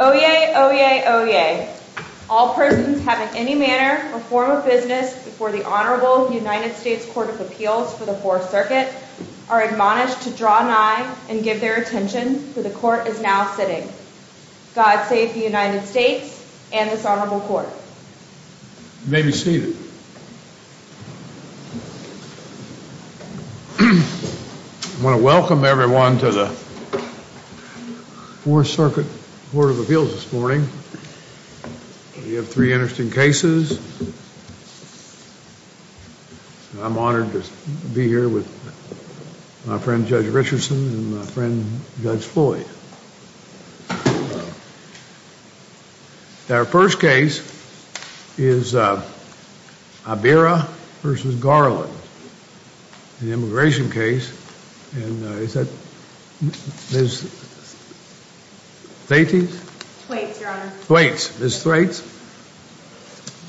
Oyez, Oyez, Oyez. All persons having any manner or form of business before the Honorable United States Court of Appeals for the Fourth Circuit are admonished to draw an eye and give their attention to the Court is now sitting. God save the United States and this Honorable Court. You may be seated. I want to welcome everyone to the Fourth Circuit Court of Appeals this morning. We have three interesting cases. I'm honored to be here with my friend Judge Richardson and my friend Judge Floyd. Our first case is Ibarra v. Garland, an immigration case. And is that Ms. Thwaites? Thwaites, Your Honor. Thwaites. Ms. Thwaites.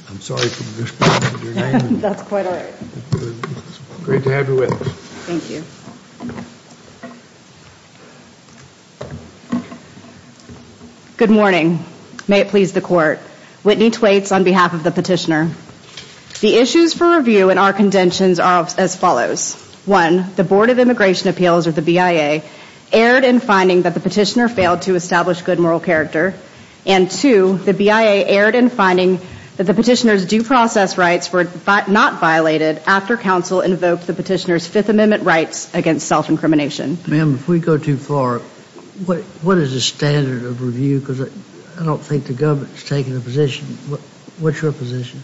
I'm sorry for mispronouncing your name. That's quite all right. It's great to have you with us. Thank you. Good morning. May it please the Court. Whitney Thwaites on behalf of the petitioner. The issues for review in our contentions are as follows. One, the Board of Immigration Appeals, or the BIA, erred in finding that the petitioner failed to establish good moral character. And two, the BIA erred in finding that the petitioner's due process rights were not violated after counsel invoked the petitioner's Fifth Amendment rights against self-incrimination. Ma'am, if we go too far, what is the standard of review? Because I don't think the government's taking a position. What's your position?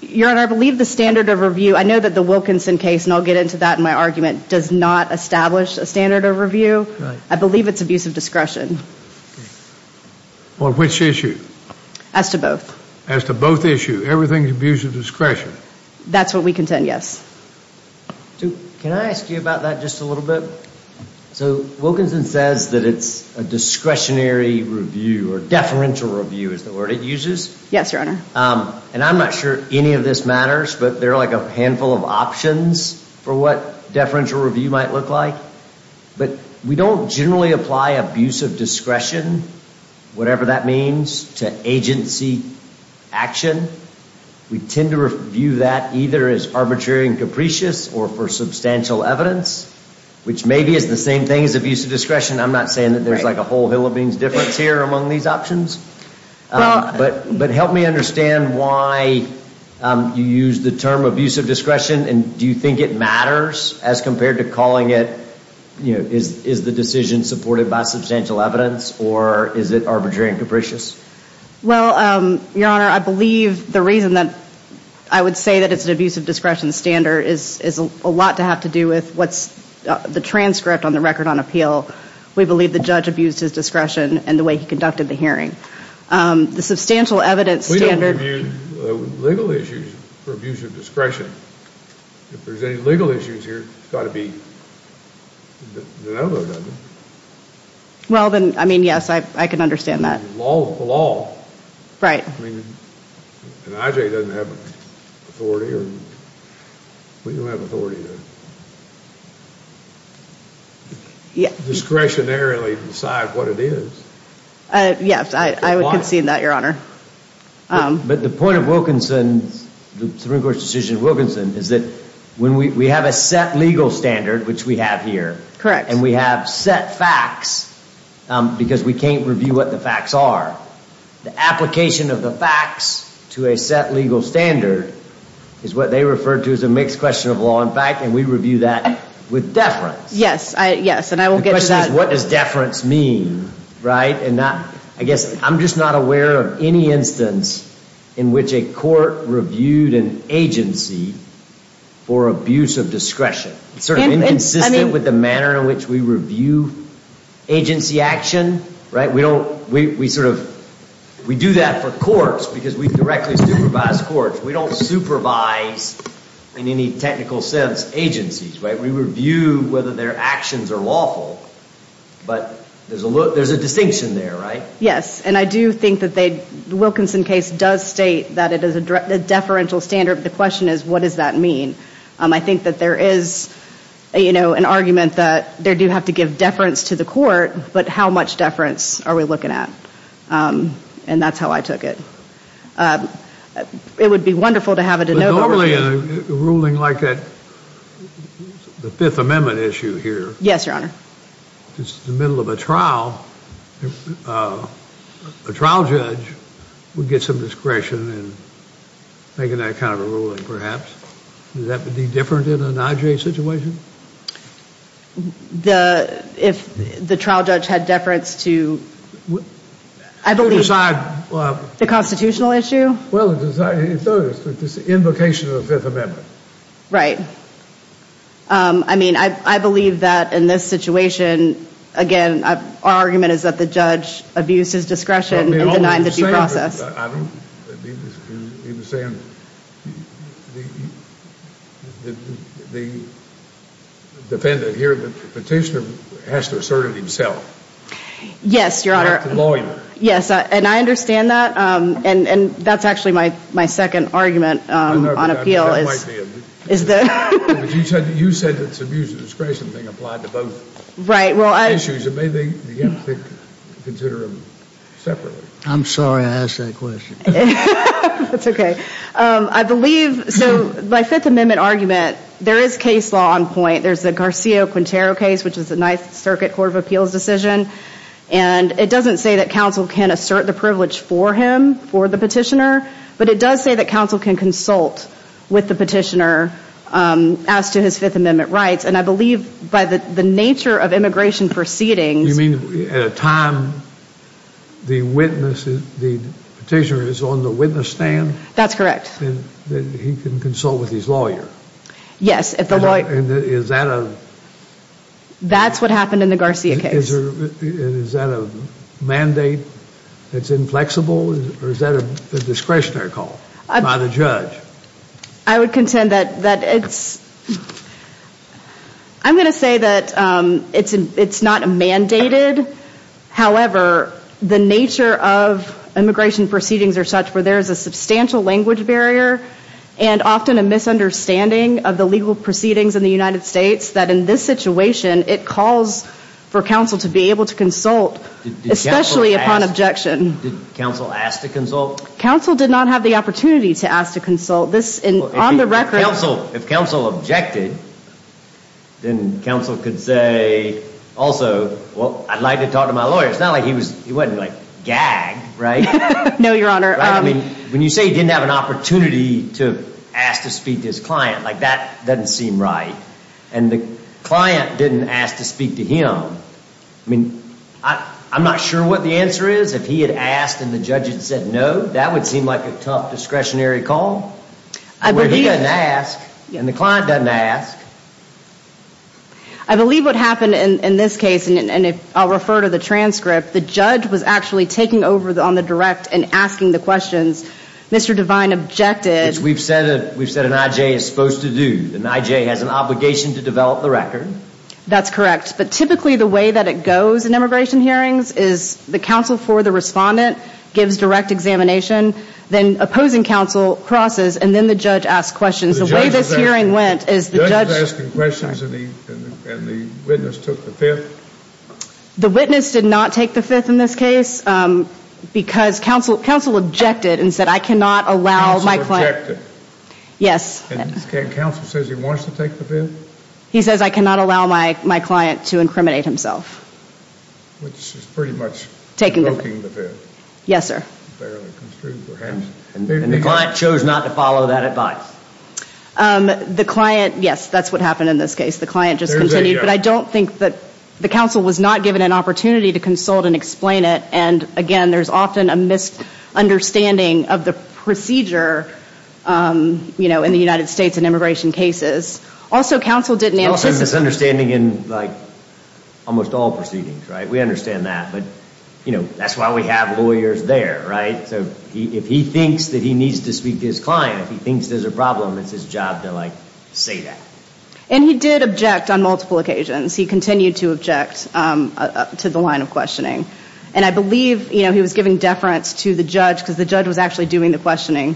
Your Honor, I believe the standard of review. I know that the Wilkinson case, and I'll get into that in my argument, does not establish a standard of review. I believe it's abuse of discretion. On which issue? As to both. As to both issues. Everything's abuse of discretion. That's what we contend, yes. Can I ask you about that just a little bit? So, Wilkinson says that it's a discretionary review, or deferential review is the word it uses. Yes, Your Honor. And I'm not sure any of this matters, but there are like a handful of options for what deferential review might look like. But we don't generally apply abuse of discretion, whatever that means, to agency action. We tend to view that either as arbitrary and capricious or for substantial evidence, which maybe is the same thing as abuse of discretion. I'm not saying that there's like a whole hill of beans difference here among these options. But help me understand why you use the term abuse of discretion, and do you think it matters as compared to calling it, you know, is the decision supported by substantial evidence, or is it arbitrary and capricious? Well, Your Honor, I believe the reason that I would say that it's an abuse of discretion standard is a lot to have to do with what's the transcript on the record on appeal. We believe the judge abused his discretion in the way he conducted the hearing. The substantial evidence standard... We don't review legal issues for abuse of discretion. If there's any legal issues here, it's got to be... Well, then, I mean, yes, I can understand that. The law is the law. Right. And IJ doesn't have authority, or... We don't have authority to... Discretionarily decide what it is. Yes, I would concede that, Your Honor. But the point of Wilkinson, the Supreme Court's decision in Wilkinson, is that we have a set legal standard, which we have here. Correct. And we have set facts because we can't review what the facts are. The application of the facts to a set legal standard is what they refer to as a mixed question of law and fact, and we review that with deference. Yes, and I will get to that. The question is, what does deference mean? I guess I'm just not aware of any instance in which a court reviewed an agency for abuse of discretion. It's sort of inconsistent with the manner in which we review agency action. We do that for courts because we directly supervise courts. We don't supervise, in any technical sense, agencies. We review whether their actions are lawful, but there's a distinction there, right? Yes, and I do think that the Wilkinson case does state that it is a deferential standard, but the question is, what does that mean? I think that there is an argument that they do have to give deference to the court, but how much deference are we looking at? And that's how I took it. It would be wonderful to have a de novo. Normally, a ruling like that, the Fifth Amendment issue here. Yes, Your Honor. It's the middle of a trial. A trial judge would get some discretion in making that kind of a ruling, perhaps. Would that be different in an IJ situation? If the trial judge had deference to… To decide… The constitutional issue? Well, it's the invocation of the Fifth Amendment. Right. I mean, I believe that in this situation, again, our argument is that the judge abuses discretion in denying the due process. He was saying the defendant here, the petitioner, has to assert it himself. Yes, Your Honor. Yes, and I understand that. And that's actually my second argument on appeal. I know, but that might be a… Is the… But you said that it's abuse of discretion being applied to both issues. Right, well, I… And maybe you have to consider them separately. I'm sorry I asked that question. That's okay. I believe, so, my Fifth Amendment argument, there is case law on point. There's the Garcia-Quintero case, which is the Ninth Circuit Court of Appeals decision. And it doesn't say that counsel can assert the privilege for him, for the petitioner, but it does say that counsel can consult with the petitioner as to his Fifth Amendment rights. And I believe by the nature of immigration proceedings… You mean at a time the witness, the petitioner is on the witness stand? That's correct. Then he can consult with his lawyer? Yes, if the lawyer… Is that a… That's what happened in the Garcia case. Is that a mandate that's inflexible, or is that a discretionary call by the judge? I would contend that it's… I'm going to say that it's not mandated. However, the nature of immigration proceedings or such where there is a substantial language barrier and often a misunderstanding of the legal proceedings in the United States, that in this situation it calls for counsel to be able to consult, especially upon objection. Did counsel ask to consult? Counsel did not have the opportunity to ask to consult. This, on the record… If counsel objected, then counsel could say, also, well, I'd like to talk to my lawyer. It's not like he was, he wasn't like gagged, right? No, Your Honor. When you say he didn't have an opportunity to ask to speak to his client, like that doesn't seem right. And the client didn't ask to speak to him. I mean, I'm not sure what the answer is. If he had asked and the judge had said no, that would seem like a tough discretionary call. Where he doesn't ask and the client doesn't ask. I believe what happened in this case, and I'll refer to the transcript, the judge was actually taking over on the direct and asking the questions. Mr. Devine objected. Which we've said an I.J. is supposed to do. An I.J. has an obligation to develop the record. That's correct. But typically the way that it goes in immigration hearings is the counsel for the respondent gives direct examination, then opposing counsel crosses, and then the judge asks questions. The way this hearing went is the judge… The judge was asking questions and the witness took the fifth. The witness did not take the fifth in this case because counsel objected and said, I cannot allow my client… Counsel objected. Yes. And counsel says he wants to take the fifth? He says, I cannot allow my client to incriminate himself. Which is pretty much invoking the fifth. Yes, sir. And the client chose not to follow that advice. The client, yes, that's what happened in this case. The client just continued. But I don't think that the counsel was not given an opportunity to consult and explain it. And, again, there's often a misunderstanding of the procedure, you know, in the United States in immigration cases. Also, counsel didn't… Also, misunderstanding in, like, almost all proceedings, right? We understand that. But, you know, that's why we have lawyers there, right? So if he thinks that he needs to speak to his client, if he thinks there's a problem, it's his job to, like, say that. And he did object on multiple occasions. He continued to object to the line of questioning. And I believe, you know, he was giving deference to the judge because the judge was actually doing the questioning,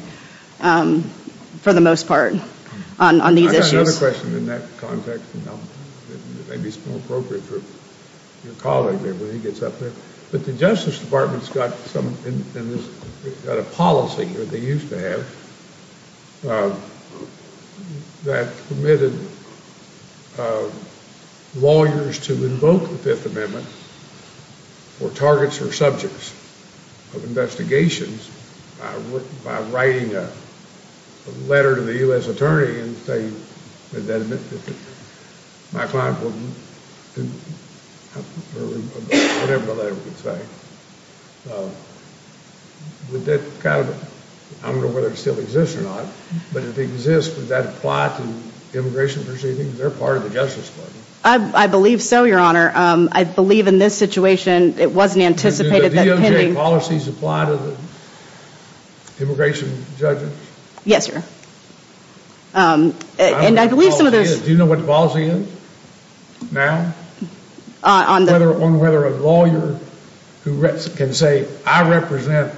for the most part, on these issues. I've got another question in that context. Maybe it's more appropriate for your colleague there when he gets up there. But the Justice Department's got a policy, or they used to have, that permitted lawyers to invoke the Fifth Amendment for targets or subjects of investigations by writing a letter to the U.S. attorney and saying, Would that mean that my client wouldn't, or whatever the letter would say? Would that kind of, I don't know whether it still exists or not, but if it exists, would that apply to immigration proceedings? They're part of the Justice Department. I believe so, Your Honor. I believe in this situation it wasn't anticipated that pending… Do the DOJ policies apply to the immigration judges? Yes, sir. And I believe some of those… Do you know what the policy is now? On the… On whether a lawyer who can say, I represent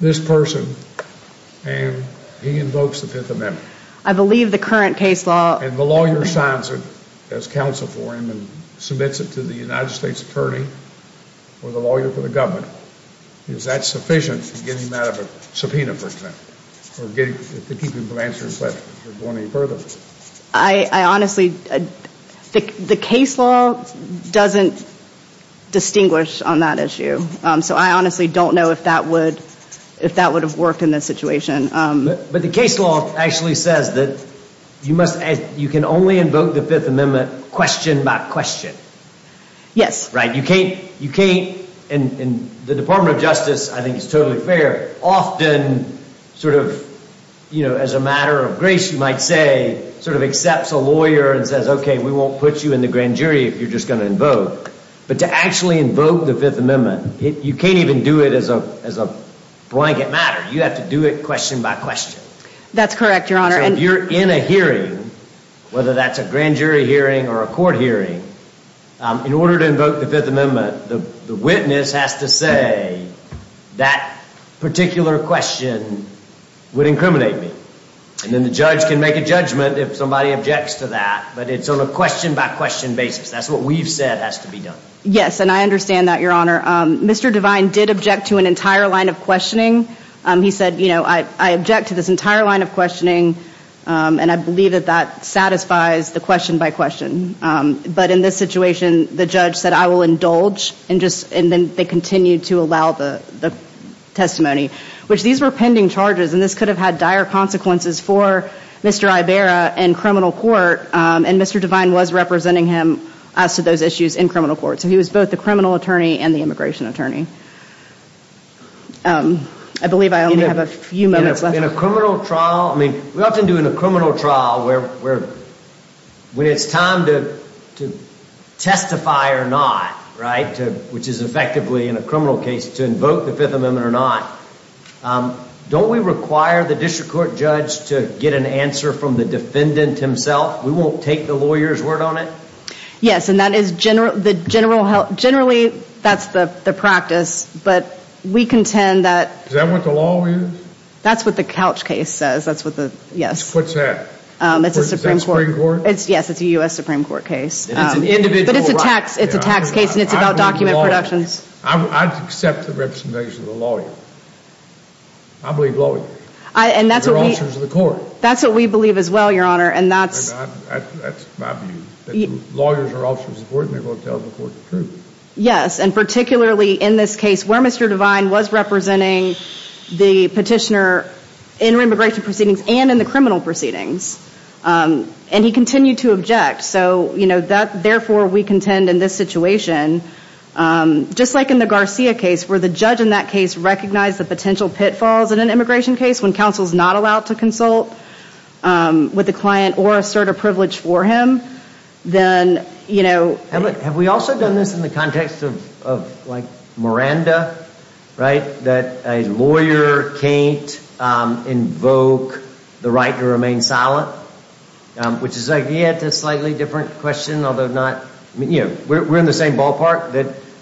this person, and he invokes the Fifth Amendment. I believe the current case law… And the lawyer signs it as counsel for him and submits it to the United States attorney or the lawyer for the government. Is that sufficient to get him out of a subpoena, for example, or to keep him from answering questions or going any further? I honestly… The case law doesn't distinguish on that issue. So I honestly don't know if that would have worked in this situation. But the case law actually says that you can only invoke the Fifth Amendment question by question. Yes. You can't… And the Department of Justice, I think it's totally fair, often sort of, you know, as a matter of grace, you might say, sort of accepts a lawyer and says, okay, we won't put you in the grand jury if you're just going to invoke. But to actually invoke the Fifth Amendment, you can't even do it as a blanket matter. You have to do it question by question. That's correct, Your Honor. So if you're in a hearing, whether that's a grand jury hearing or a court hearing, in order to invoke the Fifth Amendment, the witness has to say that particular question would incriminate me. And then the judge can make a judgment if somebody objects to that. But it's on a question by question basis. That's what we've said has to be done. Yes, and I understand that, Your Honor. Mr. Devine did object to an entire line of questioning. He said, you know, I object to this entire line of questioning, and I believe that that satisfies the question by question. But in this situation, the judge said, I will indulge, and then they continued to allow the testimony, which these were pending charges. And this could have had dire consequences for Mr. Iberra in criminal court, and Mr. Devine was representing him as to those issues in criminal court. So he was both the criminal attorney and the immigration attorney. I believe I only have a few minutes left. In a criminal trial, I mean, we often do in a criminal trial where it's time to testify or not, right, which is effectively in a criminal case, to invoke the Fifth Amendment or not. Don't we require the district court judge to get an answer from the defendant himself? We won't take the lawyer's word on it? Yes, and that is the general – generally, that's the practice. But we contend that – Is that what the law is? That's what the couch case says. That's what the – yes. What's that? It's a Supreme Court – Is that Supreme Court? Yes, it's a U.S. Supreme Court case. It's an individual right. But it's a tax case, and it's about document productions. I accept the representation of the lawyer. I believe lawyers. And that's what we – They're officers of the court. That's what we believe as well, Your Honor, and that's – That's my view, that lawyers are officers of the court, and they're going to tell the court the truth. Yes, and particularly in this case where Mr. Devine was representing the petitioner in immigration proceedings and in the criminal proceedings, and he continued to object. So, you know, therefore, we contend in this situation, just like in the Garcia case, where the judge in that case recognized the potential pitfalls in an immigration case when counsel is not allowed to consult with the client or assert a privilege for him, then, you know – Have we also done this in the context of, like, Miranda, right, that a lawyer can't invoke the right to remain silent, which is, like, yet a slightly different question, although not – I mean, you know, we're in the same ballpark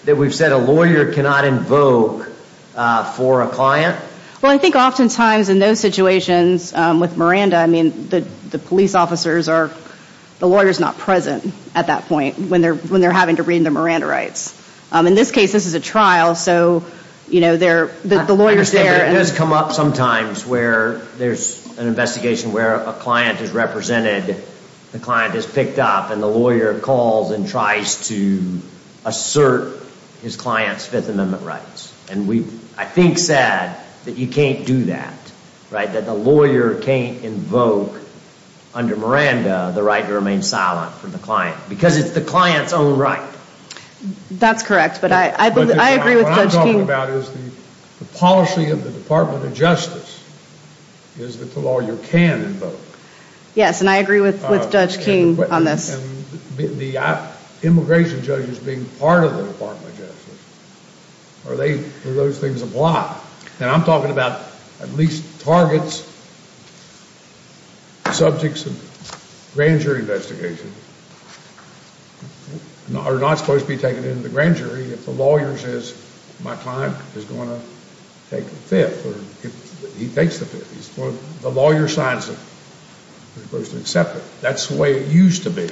that we've said a lawyer cannot invoke for a client. Well, I think oftentimes in those situations with Miranda, I mean, the police officers are – the lawyer's not present at that point when they're having to read the Miranda rights. In this case, this is a trial, so, you know, they're – the lawyer's there – I understand that it does come up sometimes where there's an investigation where a client is represented, the client is picked up, and the lawyer calls and tries to assert his client's Fifth Amendment rights. And we've, I think, said that you can't do that, right, that the lawyer can't invoke under Miranda the right to remain silent for the client, because it's the client's own right. That's correct, but I agree with Judge Keene. What I'm talking about is the policy of the Department of Justice is that the lawyer can invoke. Yes, and I agree with Judge Keene on this. And the immigration judges being part of the Department of Justice, are they – do those things apply? And I'm talking about at least targets, subjects of grand jury investigations, are not supposed to be taken into the grand jury if the lawyer says, my client is going to take the Fifth or he takes the Fifth. The lawyer signs it. They're supposed to accept it. That's the way it used to be.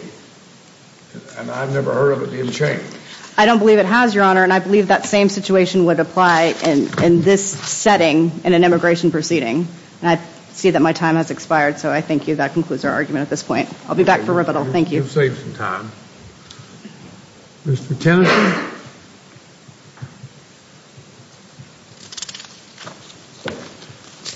And I've never heard of it being changed. I don't believe it has, Your Honor, and I believe that same situation would apply in this setting in an immigration proceeding. And I see that my time has expired, so I thank you. That concludes our argument at this point. I'll be back for rebuttal. Thank you. You've saved some time. Mr. Tennyson? Thank you.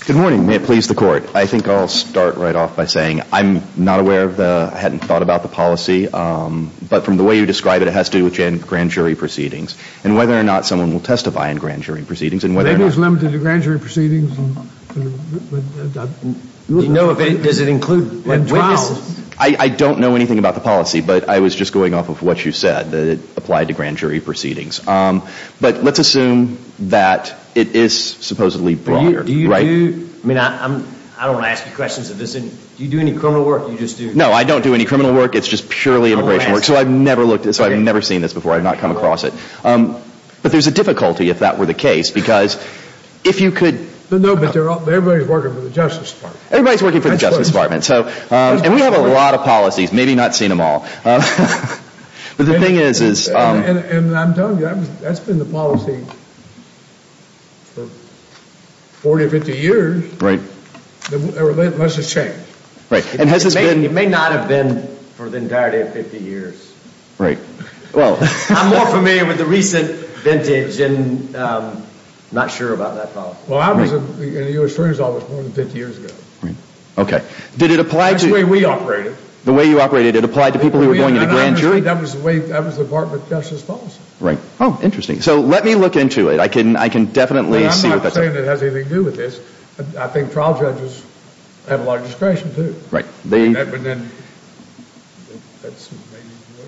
Good morning. May it please the Court. I think I'll start right off by saying I'm not aware of the – I hadn't thought about the policy, but from the way you describe it, it has to do with grand jury proceedings and whether or not someone will testify in grand jury proceedings and whether or not – Maybe it's limited to grand jury proceedings. Does it include witnesses? I don't know anything about the policy, but I was just going off of what you said, that it applied to grand jury proceedings. But let's assume that it is supposedly broader. Do you do – I mean, I don't want to ask you questions of this. Do you do any criminal work? No, I don't do any criminal work. It's just purely immigration work, so I've never looked – so I've never seen this before. I've not come across it. But there's a difficulty, if that were the case, because if you could – No, but everybody's working for the Justice Department. Everybody's working for the Justice Department. And we have a lot of policies. Maybe not seen them all. But the thing is – And I'm telling you, that's been the policy for 40 or 50 years. Right. Unless it's changed. Right. And has this been – It may not have been for the entirety of 50 years. Right. I'm more familiar with the recent vintage and I'm not sure about that policy. Well, I was in the U.S. Attorney's Office more than 50 years ago. Right. Okay. Did it apply to – That's the way we operated. The way you operated, it applied to people who were going into grand jury? That was the way – that was the Department of Justice policy. Right. Oh, interesting. So let me look into it. I can definitely see what that – I'm not saying it has anything to do with this. I think trial judges have a lot of discretion, too. Right. But then that's maybe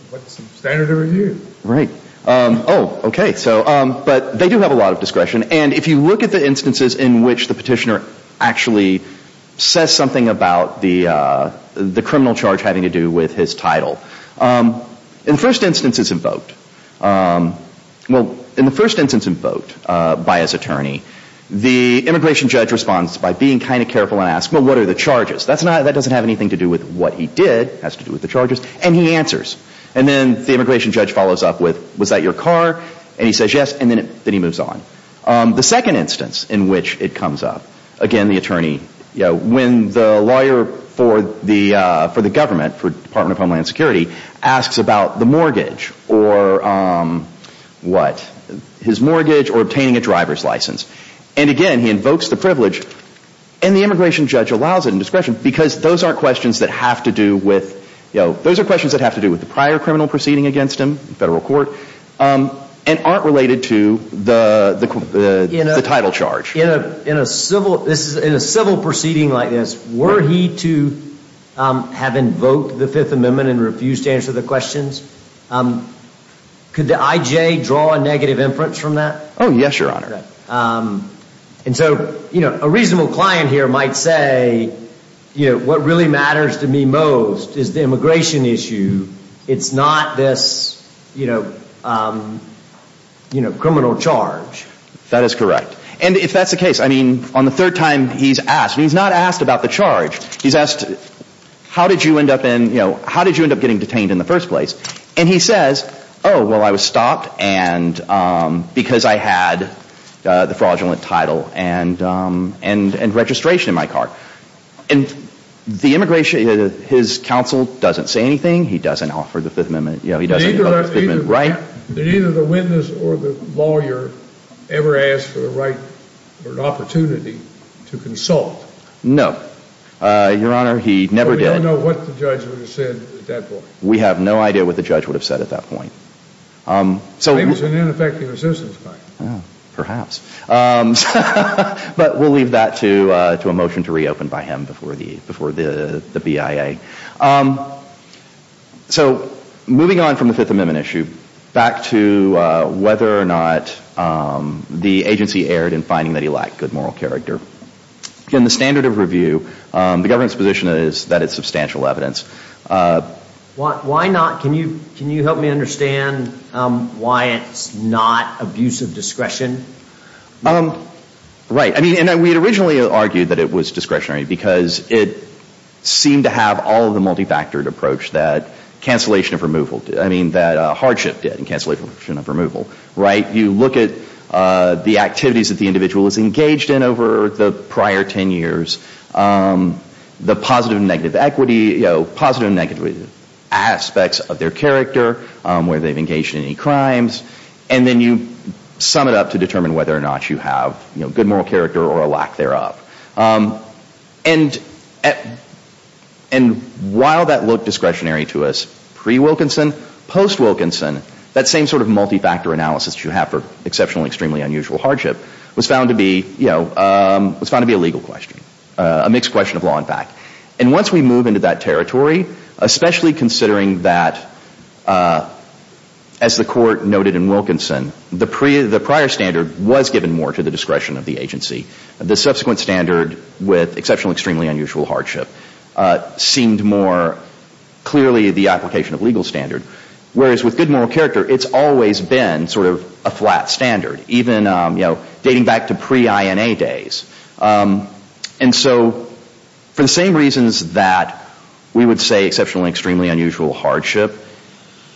what's standard to review. Right. Oh, okay. But they do have a lot of discretion. And if you look at the instances in which the petitioner actually says something about the criminal charge having to do with his title, in the first instance it's invoked – well, in the first instance invoked by his attorney, the immigration judge responds by being kind of careful and asks, well, what are the charges? That's not – that doesn't have anything to do with what he did. It has to do with the charges. And he answers. And then the immigration judge follows up with, was that your car? And he says yes. And then he moves on. The second instance in which it comes up, again, the attorney – when the lawyer for the government, for Department of Homeland Security, asks about the mortgage or what, his mortgage or obtaining a driver's license. And, again, he invokes the privilege. And the immigration judge allows it in discretion because those aren't questions that have to do with – those are questions that have to do with the prior criminal proceeding against him in federal court. And aren't related to the title charge. In a civil proceeding like this, were he to have invoked the Fifth Amendment and refused to answer the questions, could the IJ draw a negative inference from that? Oh, yes, Your Honor. And so, you know, a reasonable client here might say, you know, what really matters to me most is the immigration issue. It's not this, you know, criminal charge. That is correct. And if that's the case, I mean, on the third time he's asked, he's not asked about the charge. He's asked, how did you end up in, you know, how did you end up getting detained in the first place? And he says, oh, well, I was stopped because I had the fraudulent title and registration in my car. And the immigration – his counsel doesn't say anything. He doesn't offer the Fifth Amendment. You know, he doesn't offer the Fifth Amendment right. Did either the witness or the lawyer ever ask for the right or an opportunity to consult? No, Your Honor. He never did. Well, we don't know what the judge would have said at that point. We have no idea what the judge would have said at that point. So he was an ineffective assistance client. Perhaps. But we'll leave that to a motion to reopen by him before the BIA. So moving on from the Fifth Amendment issue, back to whether or not the agency erred in finding that he lacked good moral character. In the standard of review, the government's position is that it's substantial evidence. Why not? Can you help me understand why it's not abuse of discretion? Right. I mean, we had originally argued that it was discretionary because it seemed to have all of the multifactored approach that cancellation of removal – I mean, that hardship did in cancellation of removal, right? You look at the activities that the individual was engaged in over the prior 10 years, the positive and negative equity, you know, positive and negative aspects of their character, whether they've engaged in any crimes, and then you sum it up to determine whether or not you have good moral character or a lack thereof. And while that looked discretionary to us pre-Wilkinson, post-Wilkinson, that same sort of multifactor analysis you have for exceptionally extremely unusual hardship was found to be, you know, was found to be a legal question, a mixed question of law and fact. And once we move into that territory, especially considering that, as the court noted in Wilkinson, the prior standard was given more to the discretion of the agency. The subsequent standard with exceptionally extremely unusual hardship seemed more clearly the application of legal standard. Whereas with good moral character, it's always been sort of a flat standard, even, you know, dating back to pre-INA days. And so for the same reasons that we would say exceptionally extremely unusual hardship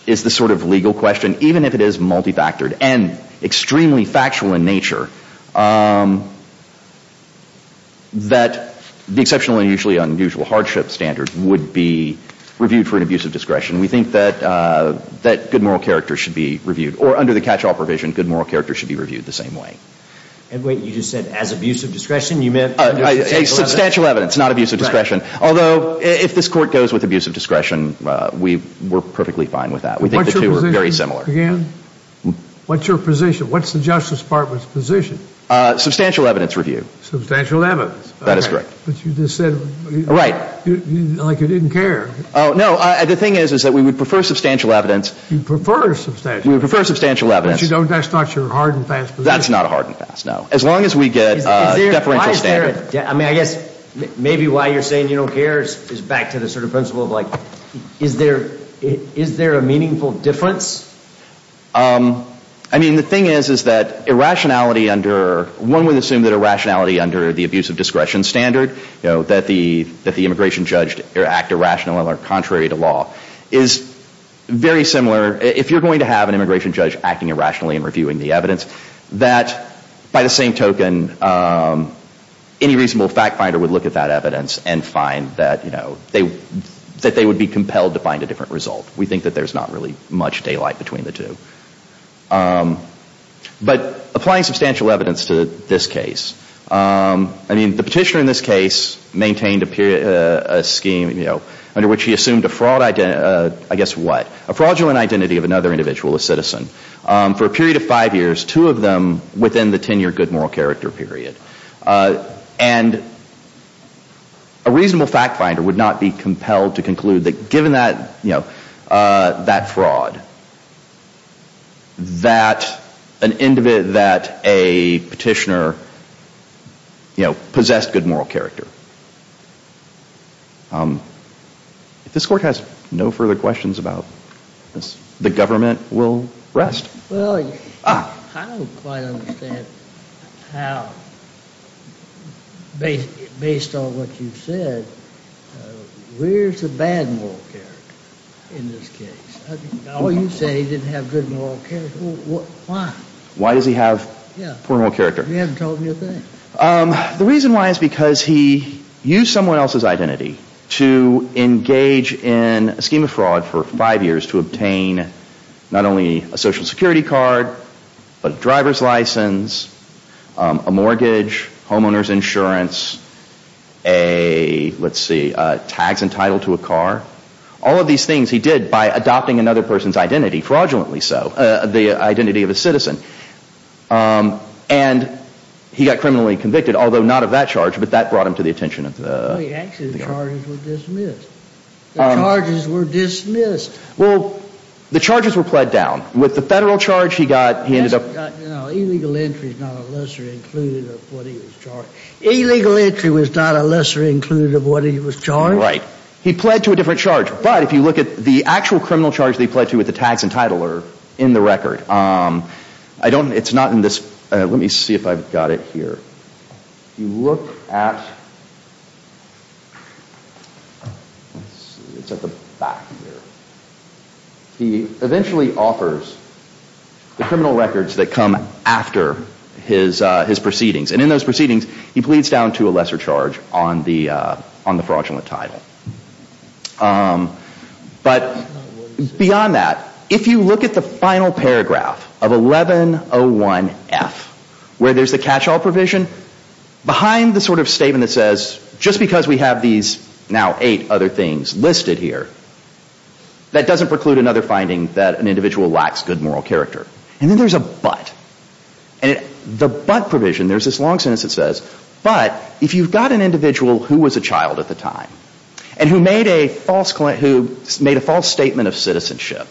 is the sort of legal question, even if it is multifactored and extremely factual in nature, that the exceptionally unusually unusual hardship standard would be reviewed for an abuse of discretion. We think that good moral character should be reviewed. Or under the catch-all provision, good moral character should be reviewed the same way. And wait, you just said as abuse of discretion, you meant? Substantial evidence, not abuse of discretion. Although if this court goes with abuse of discretion, we're perfectly fine with that. We think the two are very similar. What's your position? What's the Justice Department's position? Substantial evidence review. Substantial evidence. That is correct. But you just said. Right. Like you didn't care. Oh, no. The thing is, is that we would prefer substantial evidence. You prefer substantial evidence. We prefer substantial evidence. But that's not your hard and fast position. That's not a hard and fast, no. As long as we get a deferential standard. I mean, I guess maybe why you're saying you don't care is back to the sort of principle of like, is there a meaningful difference? I mean, the thing is, is that irrationality under, one would assume that irrationality under the abuse of discretion standard, you know, that the immigration judge act irrationally or contrary to law, is very similar. If you're going to have an immigration judge acting irrationally and reviewing the evidence, that by the same token, any reasonable fact finder would look at that evidence and find that, you know, that they would be compelled to find a different result. We think that there's not really much daylight between the two. But applying substantial evidence to this case, I mean, the petitioner in this case maintained a scheme, you know, under which he assumed a fraud, I guess what, a fraudulent identity of another individual, a citizen, for a period of five years, two of them within the 10-year good moral character period. And a reasonable fact finder would not be compelled to conclude that given that, you know, that fraud, that an individual, that a petitioner, you know, possessed good moral character. If this Court has no further questions about this, the government will rest. Well, I don't quite understand how, based on what you said, where's the bad moral character in this case? Well, you say he didn't have good moral character. Why? Why does he have poor moral character? You haven't told me a thing. The reason why is because he used someone else's identity to engage in a scheme of fraud for five years to obtain not only a Social Security card, but a driver's license, a mortgage, homeowner's insurance, a, let's see, tags entitled to a car. All of these things he did by adopting another person's identity, fraudulently so, the identity of a citizen. And he got criminally convicted, although not of that charge. But that brought him to the attention of the – Wait, actually the charges were dismissed. The charges were dismissed. Well, the charges were pled down. With the federal charge, he got – No, illegal entry is not a lesser included of what he was charged. Illegal entry was not a lesser included of what he was charged. Right. He pled to a different charge. But if you look at the actual criminal charge that he pled to with the tags entitled are in the record. I don't – it's not in this – let me see if I've got it here. If you look at – let's see, it's at the back here. He eventually offers the criminal records that come after his proceedings. And in those proceedings, he pleads down to a lesser charge on the fraudulent title. But beyond that, if you look at the final paragraph of 1101F, where there's the catch-all provision, behind the sort of statement that says, just because we have these now eight other things listed here, that doesn't preclude another finding that an individual lacks good moral character. And then there's a but. And the but provision, there's this long sentence that says, but if you've got an individual who was a child at the time and who made a false – who made a false statement of citizenship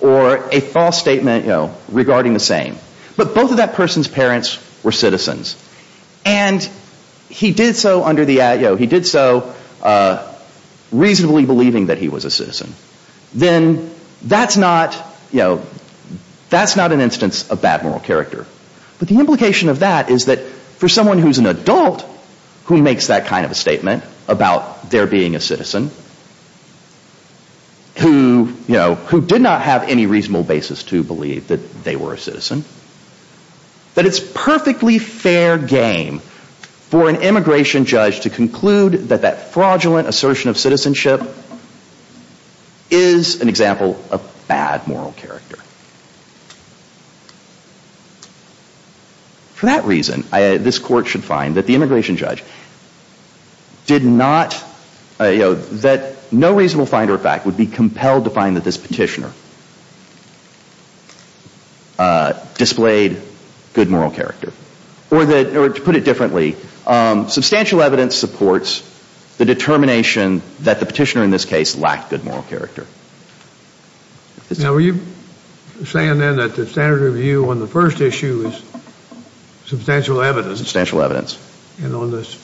or a false statement regarding the same, but both of that person's parents were citizens and he did so under the – he did so reasonably believing that he was a citizen, then that's not, you know, that's not an instance of bad moral character. But the implication of that is that for someone who's an adult, who makes that kind of a statement about their being a citizen, who, you know, who did not have any reasonable basis to believe that they were a citizen, that it's perfectly fair game for an immigration judge to conclude that that fraudulent assertion of citizenship is an example of bad moral character. For that reason, this court should find that the immigration judge did not – you know, that no reasonable find or fact would be compelled to find that this petitioner displayed good moral character. Or to put it differently, substantial evidence supports the determination that the petitioner in this case lacked good moral character. Now, were you saying then that the standard of view on the first issue is substantial evidence? Substantial evidence. And on this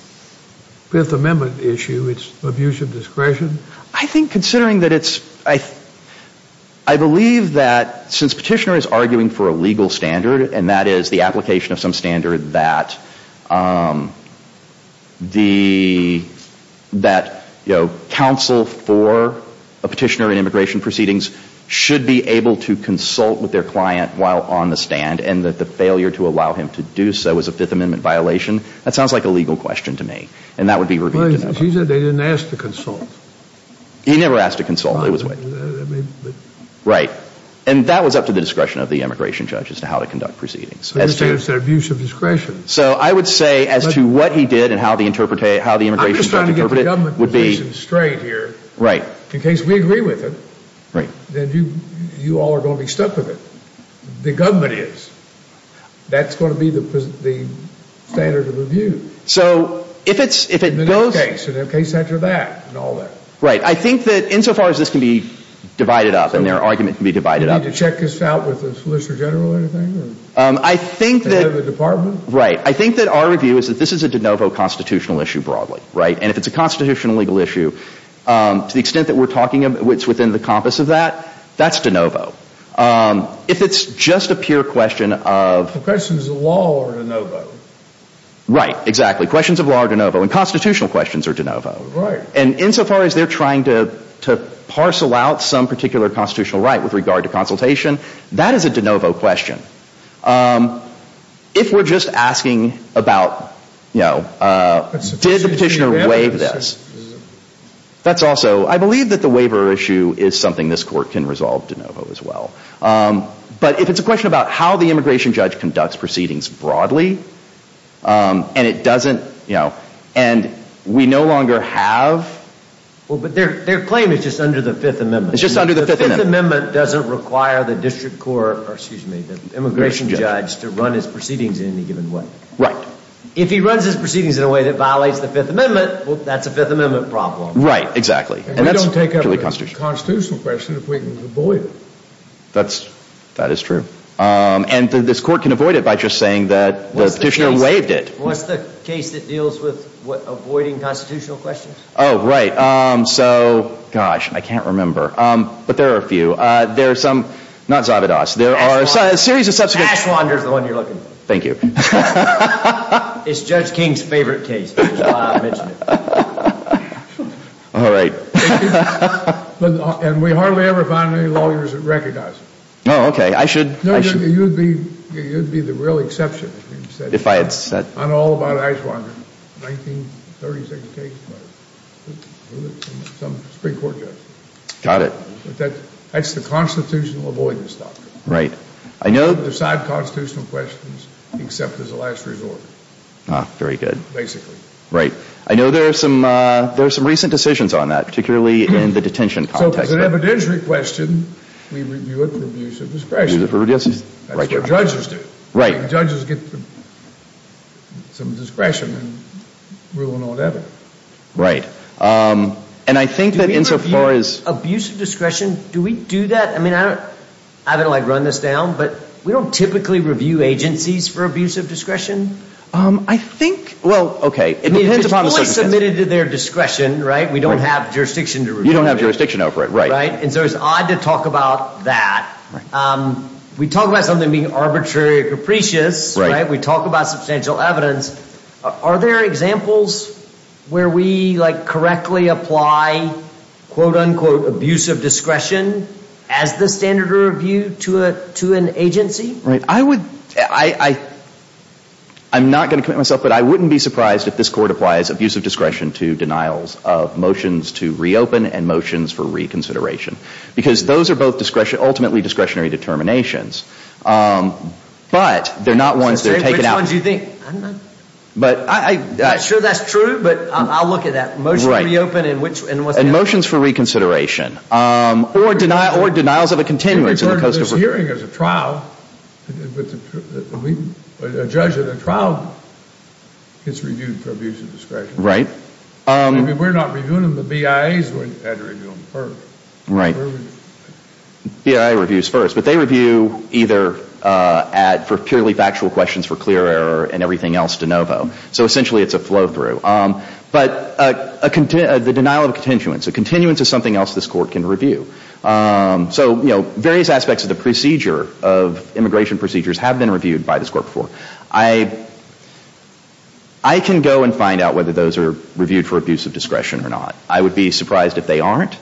Fifth Amendment issue, it's abuse of discretion? I think considering that it's – I believe that since petitioner is arguing for a legal standard, and that is the application of some standard that the – that, you know, counsel for a petitioner in immigration proceedings should be able to consult with their client while on the stand, and that the failure to allow him to do so is a Fifth Amendment violation, that sounds like a legal question to me. And that would be – Well, he said they didn't ask to consult. He never asked to consult. Right. Right. And that was up to the discretion of the immigration judge as to how to conduct proceedings. I understand it's an abuse of discretion. So I would say as to what he did and how the immigration judge interpreted it would be – I'm just trying to get the government position straight here. Right. In case we agree with it, then you all are going to be stuck with it. The government is. That's going to be the standard of review. So if it's – if it goes – In the next case and the case after that and all that. Right. I think that insofar as this can be divided up and their argument can be divided up – Do you need to check this out with the Solicitor General or anything? I think that – Or the Department? Right. I think that our review is that this is a de novo constitutional issue broadly, right? And if it's a constitutional legal issue, to the extent that we're talking – it's within the compass of that, that's de novo. If it's just a pure question of – The question is the law or de novo. Right. Exactly. Questions of law are de novo, and constitutional questions are de novo. Right. And insofar as they're trying to parcel out some particular constitutional right with regard to consultation, that is a de novo question. If we're just asking about, you know, did the petitioner waive this? That's also – I believe that the waiver issue is something this Court can resolve de novo as well. But if it's a question about how the immigration judge conducts proceedings broadly, and it doesn't, you know – And we no longer have – Well, but their claim is just under the Fifth Amendment. It's just under the Fifth Amendment. The Fifth Amendment doesn't require the district court – or, excuse me, the immigration judge to run his proceedings in any given way. Right. If he runs his proceedings in a way that violates the Fifth Amendment, well, that's a Fifth Amendment problem. Right. Exactly. And we don't take up a constitutional question if we can avoid it. That is true. And this Court can avoid it by just saying that the petitioner waived it. What's the case that deals with avoiding constitutional questions? Oh, right. So, gosh, I can't remember. But there are a few. There are some – not Zavadas. There are a series of subsequent – Ashwander is the one you're looking for. Thank you. It's Judge King's favorite case, which is why I mentioned it. All right. And we hardly ever find any lawyers that recognize him. Oh, okay. I should – No, you would be the real exception. If I had said – If I had said – I know all about Ashwander. 1936 case. Some Supreme Court judge. Got it. But that's the constitutional avoidance doctrine. Right. I know – You can't decide constitutional questions except as a last resort. Very good. Basically. Right. I know there are some recent decisions on that, particularly in the detention context. So if it's an evidentiary question, we review it for abuse of discretion. We review it for abuse of discretion. That's what judges do. Right. Judges get some discretion in ruling or whatever. Right. And I think that insofar as – Do we review abuse of discretion? Do we do that? I mean, I don't – I don't like run this down, but we don't typically review agencies for abuse of discretion. I think – Well, okay. It depends upon the circumstances. It's always submitted to their discretion, right? We don't have jurisdiction to review it. You don't have jurisdiction over it. Right. Right. And so it's odd to talk about that. We talk about something being arbitrary or capricious. We talk about substantial evidence. Are there examples where we, like, correctly apply, quote-unquote, abuse of discretion as the standard to review to an agency? Right. I would – I'm not going to commit myself, but I wouldn't be surprised if this court applies abuse of discretion to denials of motions to reopen and motions for reconsideration. Because those are both ultimately discretionary determinations. But they're not ones that are taken out – Which ones do you think? I don't know. But I – I'm not sure that's true, but I'll look at that. Motion to reopen and which – Right. And motions for reconsideration. Or denials of a continuance. We've heard of this hearing as a trial. A judge at a trial gets reviewed for abuse of discretion. Right. I mean, we're not reviewing them. The BIAs had to review them first. Right. BIA reviews first. But they review either at – for purely factual questions for clear error and everything else de novo. So essentially it's a flow-through. But a – the denial of a continuance. A continuance is something else this Court can review. So, you know, various aspects of the procedure of immigration procedures have been reviewed by this Court before. I – I can go and find out whether those are reviewed for abuse of discretion or not. I would be surprised if they aren't.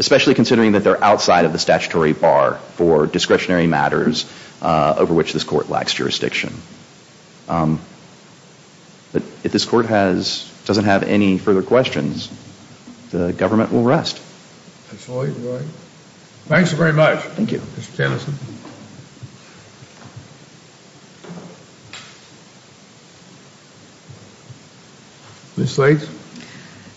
Especially considering that they're outside of the statutory bar for discretionary matters over which this Court lacks jurisdiction. But if this Court has – doesn't have any further questions, the government will rest. Absolutely right. Thanks very much. Thank you. Mr. Jamison. Ms. Slates.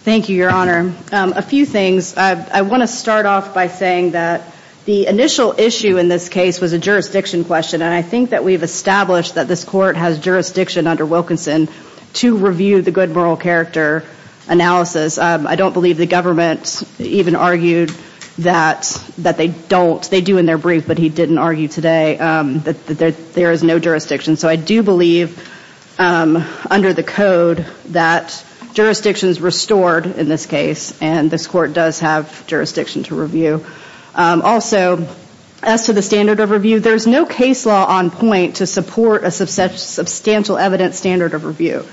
Thank you, Your Honor. A few things. I want to start off by saying that the initial issue in this case was a jurisdiction question. And I think that we've established that this Court has jurisdiction under Wilkinson to review the good moral character analysis. I don't believe the government even argued that they don't. They do in their brief, but he didn't argue today that there is no jurisdiction. So I do believe under the code that jurisdiction is restored in this case. And this Court does have jurisdiction to review. Also, as to the standard of review, there's no case law on point to support a substantial evidence standard of review.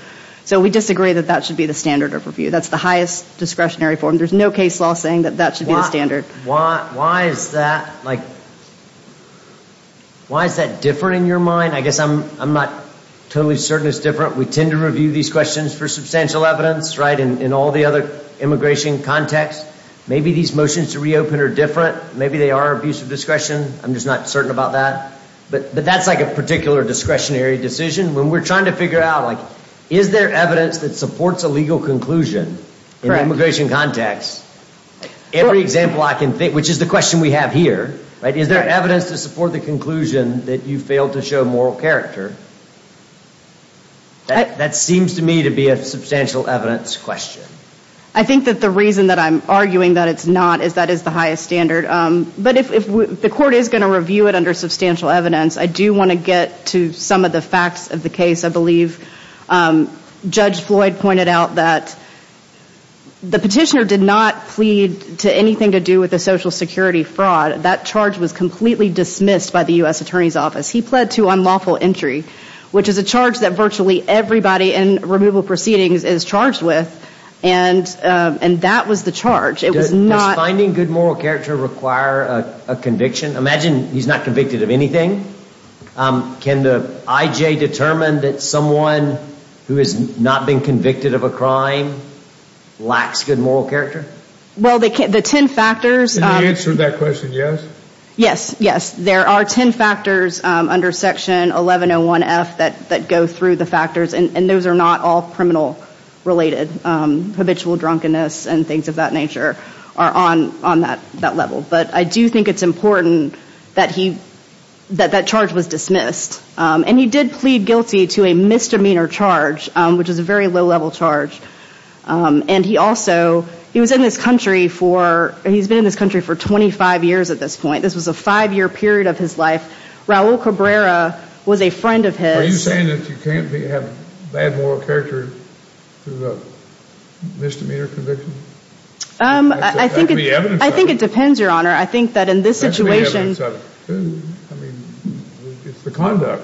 So we disagree that that should be the standard of review. That's the highest discretionary form. There's no case law saying that that should be the standard. Why is that like – why is that different in your mind? I guess I'm not totally certain it's different. We tend to review these questions for substantial evidence, right, in all the other immigration contexts. Maybe these motions to reopen are different. Maybe they are abuse of discretion. I'm just not certain about that. But that's like a particular discretionary decision. When we're trying to figure out, like, is there evidence that supports a legal conclusion in an immigration context? Every example I can think – which is the question we have here, right? If you fail to show moral character, that seems to me to be a substantial evidence question. I think that the reason that I'm arguing that it's not is that is the highest standard. But if the Court is going to review it under substantial evidence, I do want to get to some of the facts of the case. I believe Judge Floyd pointed out that the petitioner did not plead to anything to do with the Social Security fraud. That charge was completely dismissed by the U.S. Attorney's Office. He pled to unlawful entry, which is a charge that virtually everybody in removal proceedings is charged with. And that was the charge. Does finding good moral character require a conviction? Imagine he's not convicted of anything. Can the IJ determine that someone who has not been convicted of a crime lacks good moral character? Well, the ten factors – Can you answer that question, yes? Yes, yes. There are ten factors under Section 1101F that go through the factors. And those are not all criminal-related. Habitual drunkenness and things of that nature are on that level. But I do think it's important that that charge was dismissed. And he did plead guilty to a misdemeanor charge, which is a very low-level charge. And he also – he was in this country for – he's been in this country for 25 years at this point. This was a five-year period of his life. Raul Cabrera was a friend of his. Are you saying that you can't have bad moral character through a misdemeanor conviction? I think it depends, Your Honor. I think that in this situation – That's the evidence of who – I mean, it's the conduct.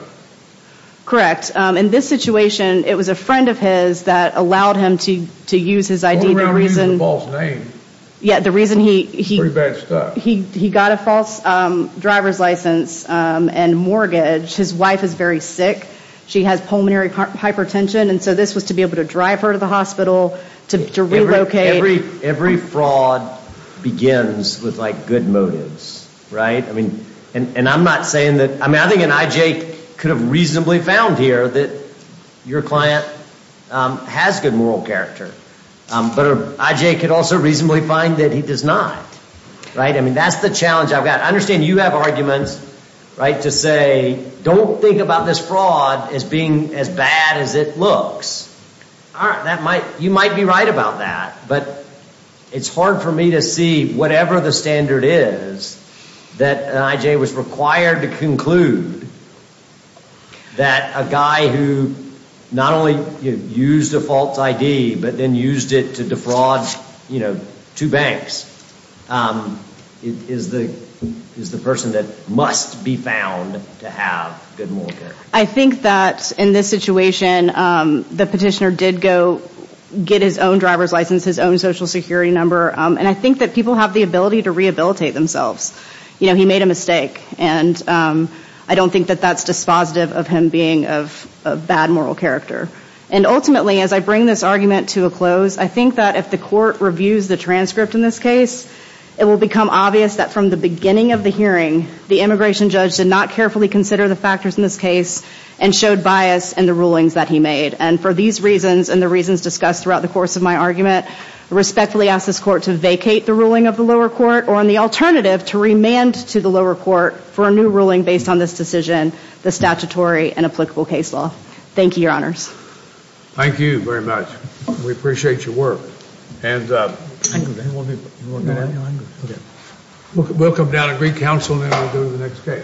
Correct. In this situation, it was a friend of his that allowed him to use his ID. The only reason he used a false name. Yeah, the reason he – It's pretty bad stuff. He got a false driver's license and mortgage. His wife is very sick. She has pulmonary hypertension. And so this was to be able to drive her to the hospital, to relocate. Every fraud begins with, like, good motives, right? I mean, and I'm not saying that – I mean, I think an IJ could have reasonably found here that your client has good moral character. But an IJ could also reasonably find that he does not, right? I mean, that's the challenge I've got. I understand you have arguments, right, to say don't think about this fraud as being as bad as it looks. All right, that might – you might be right about that. But it's hard for me to see, whatever the standard is, that an IJ was required to conclude that a guy who not only used a false ID, but then used it to defraud, you know, two banks, is the person that must be found to have good moral character. I think that in this situation, the petitioner did go get his own driver's license, his own Social Security number. And I think that people have the ability to rehabilitate themselves. You know, he made a mistake. And I don't think that that's dispositive of him being of bad moral character. And ultimately, as I bring this argument to a close, I think that if the court reviews the transcript in this case, it will become obvious that from the beginning of the hearing, the immigration judge did not carefully consider the factors in this case and showed bias in the rulings that he made. And for these reasons and the reasons discussed throughout the course of my argument, I respectfully ask this court to vacate the ruling of the lower court or, on the alternative, to remand to the lower court for a new ruling based on this decision, the statutory and applicable case law. Thank you, Your Honors. Thank you very much. We appreciate your work. Hands up. We'll come down and re-counsel and then we'll go to the next case.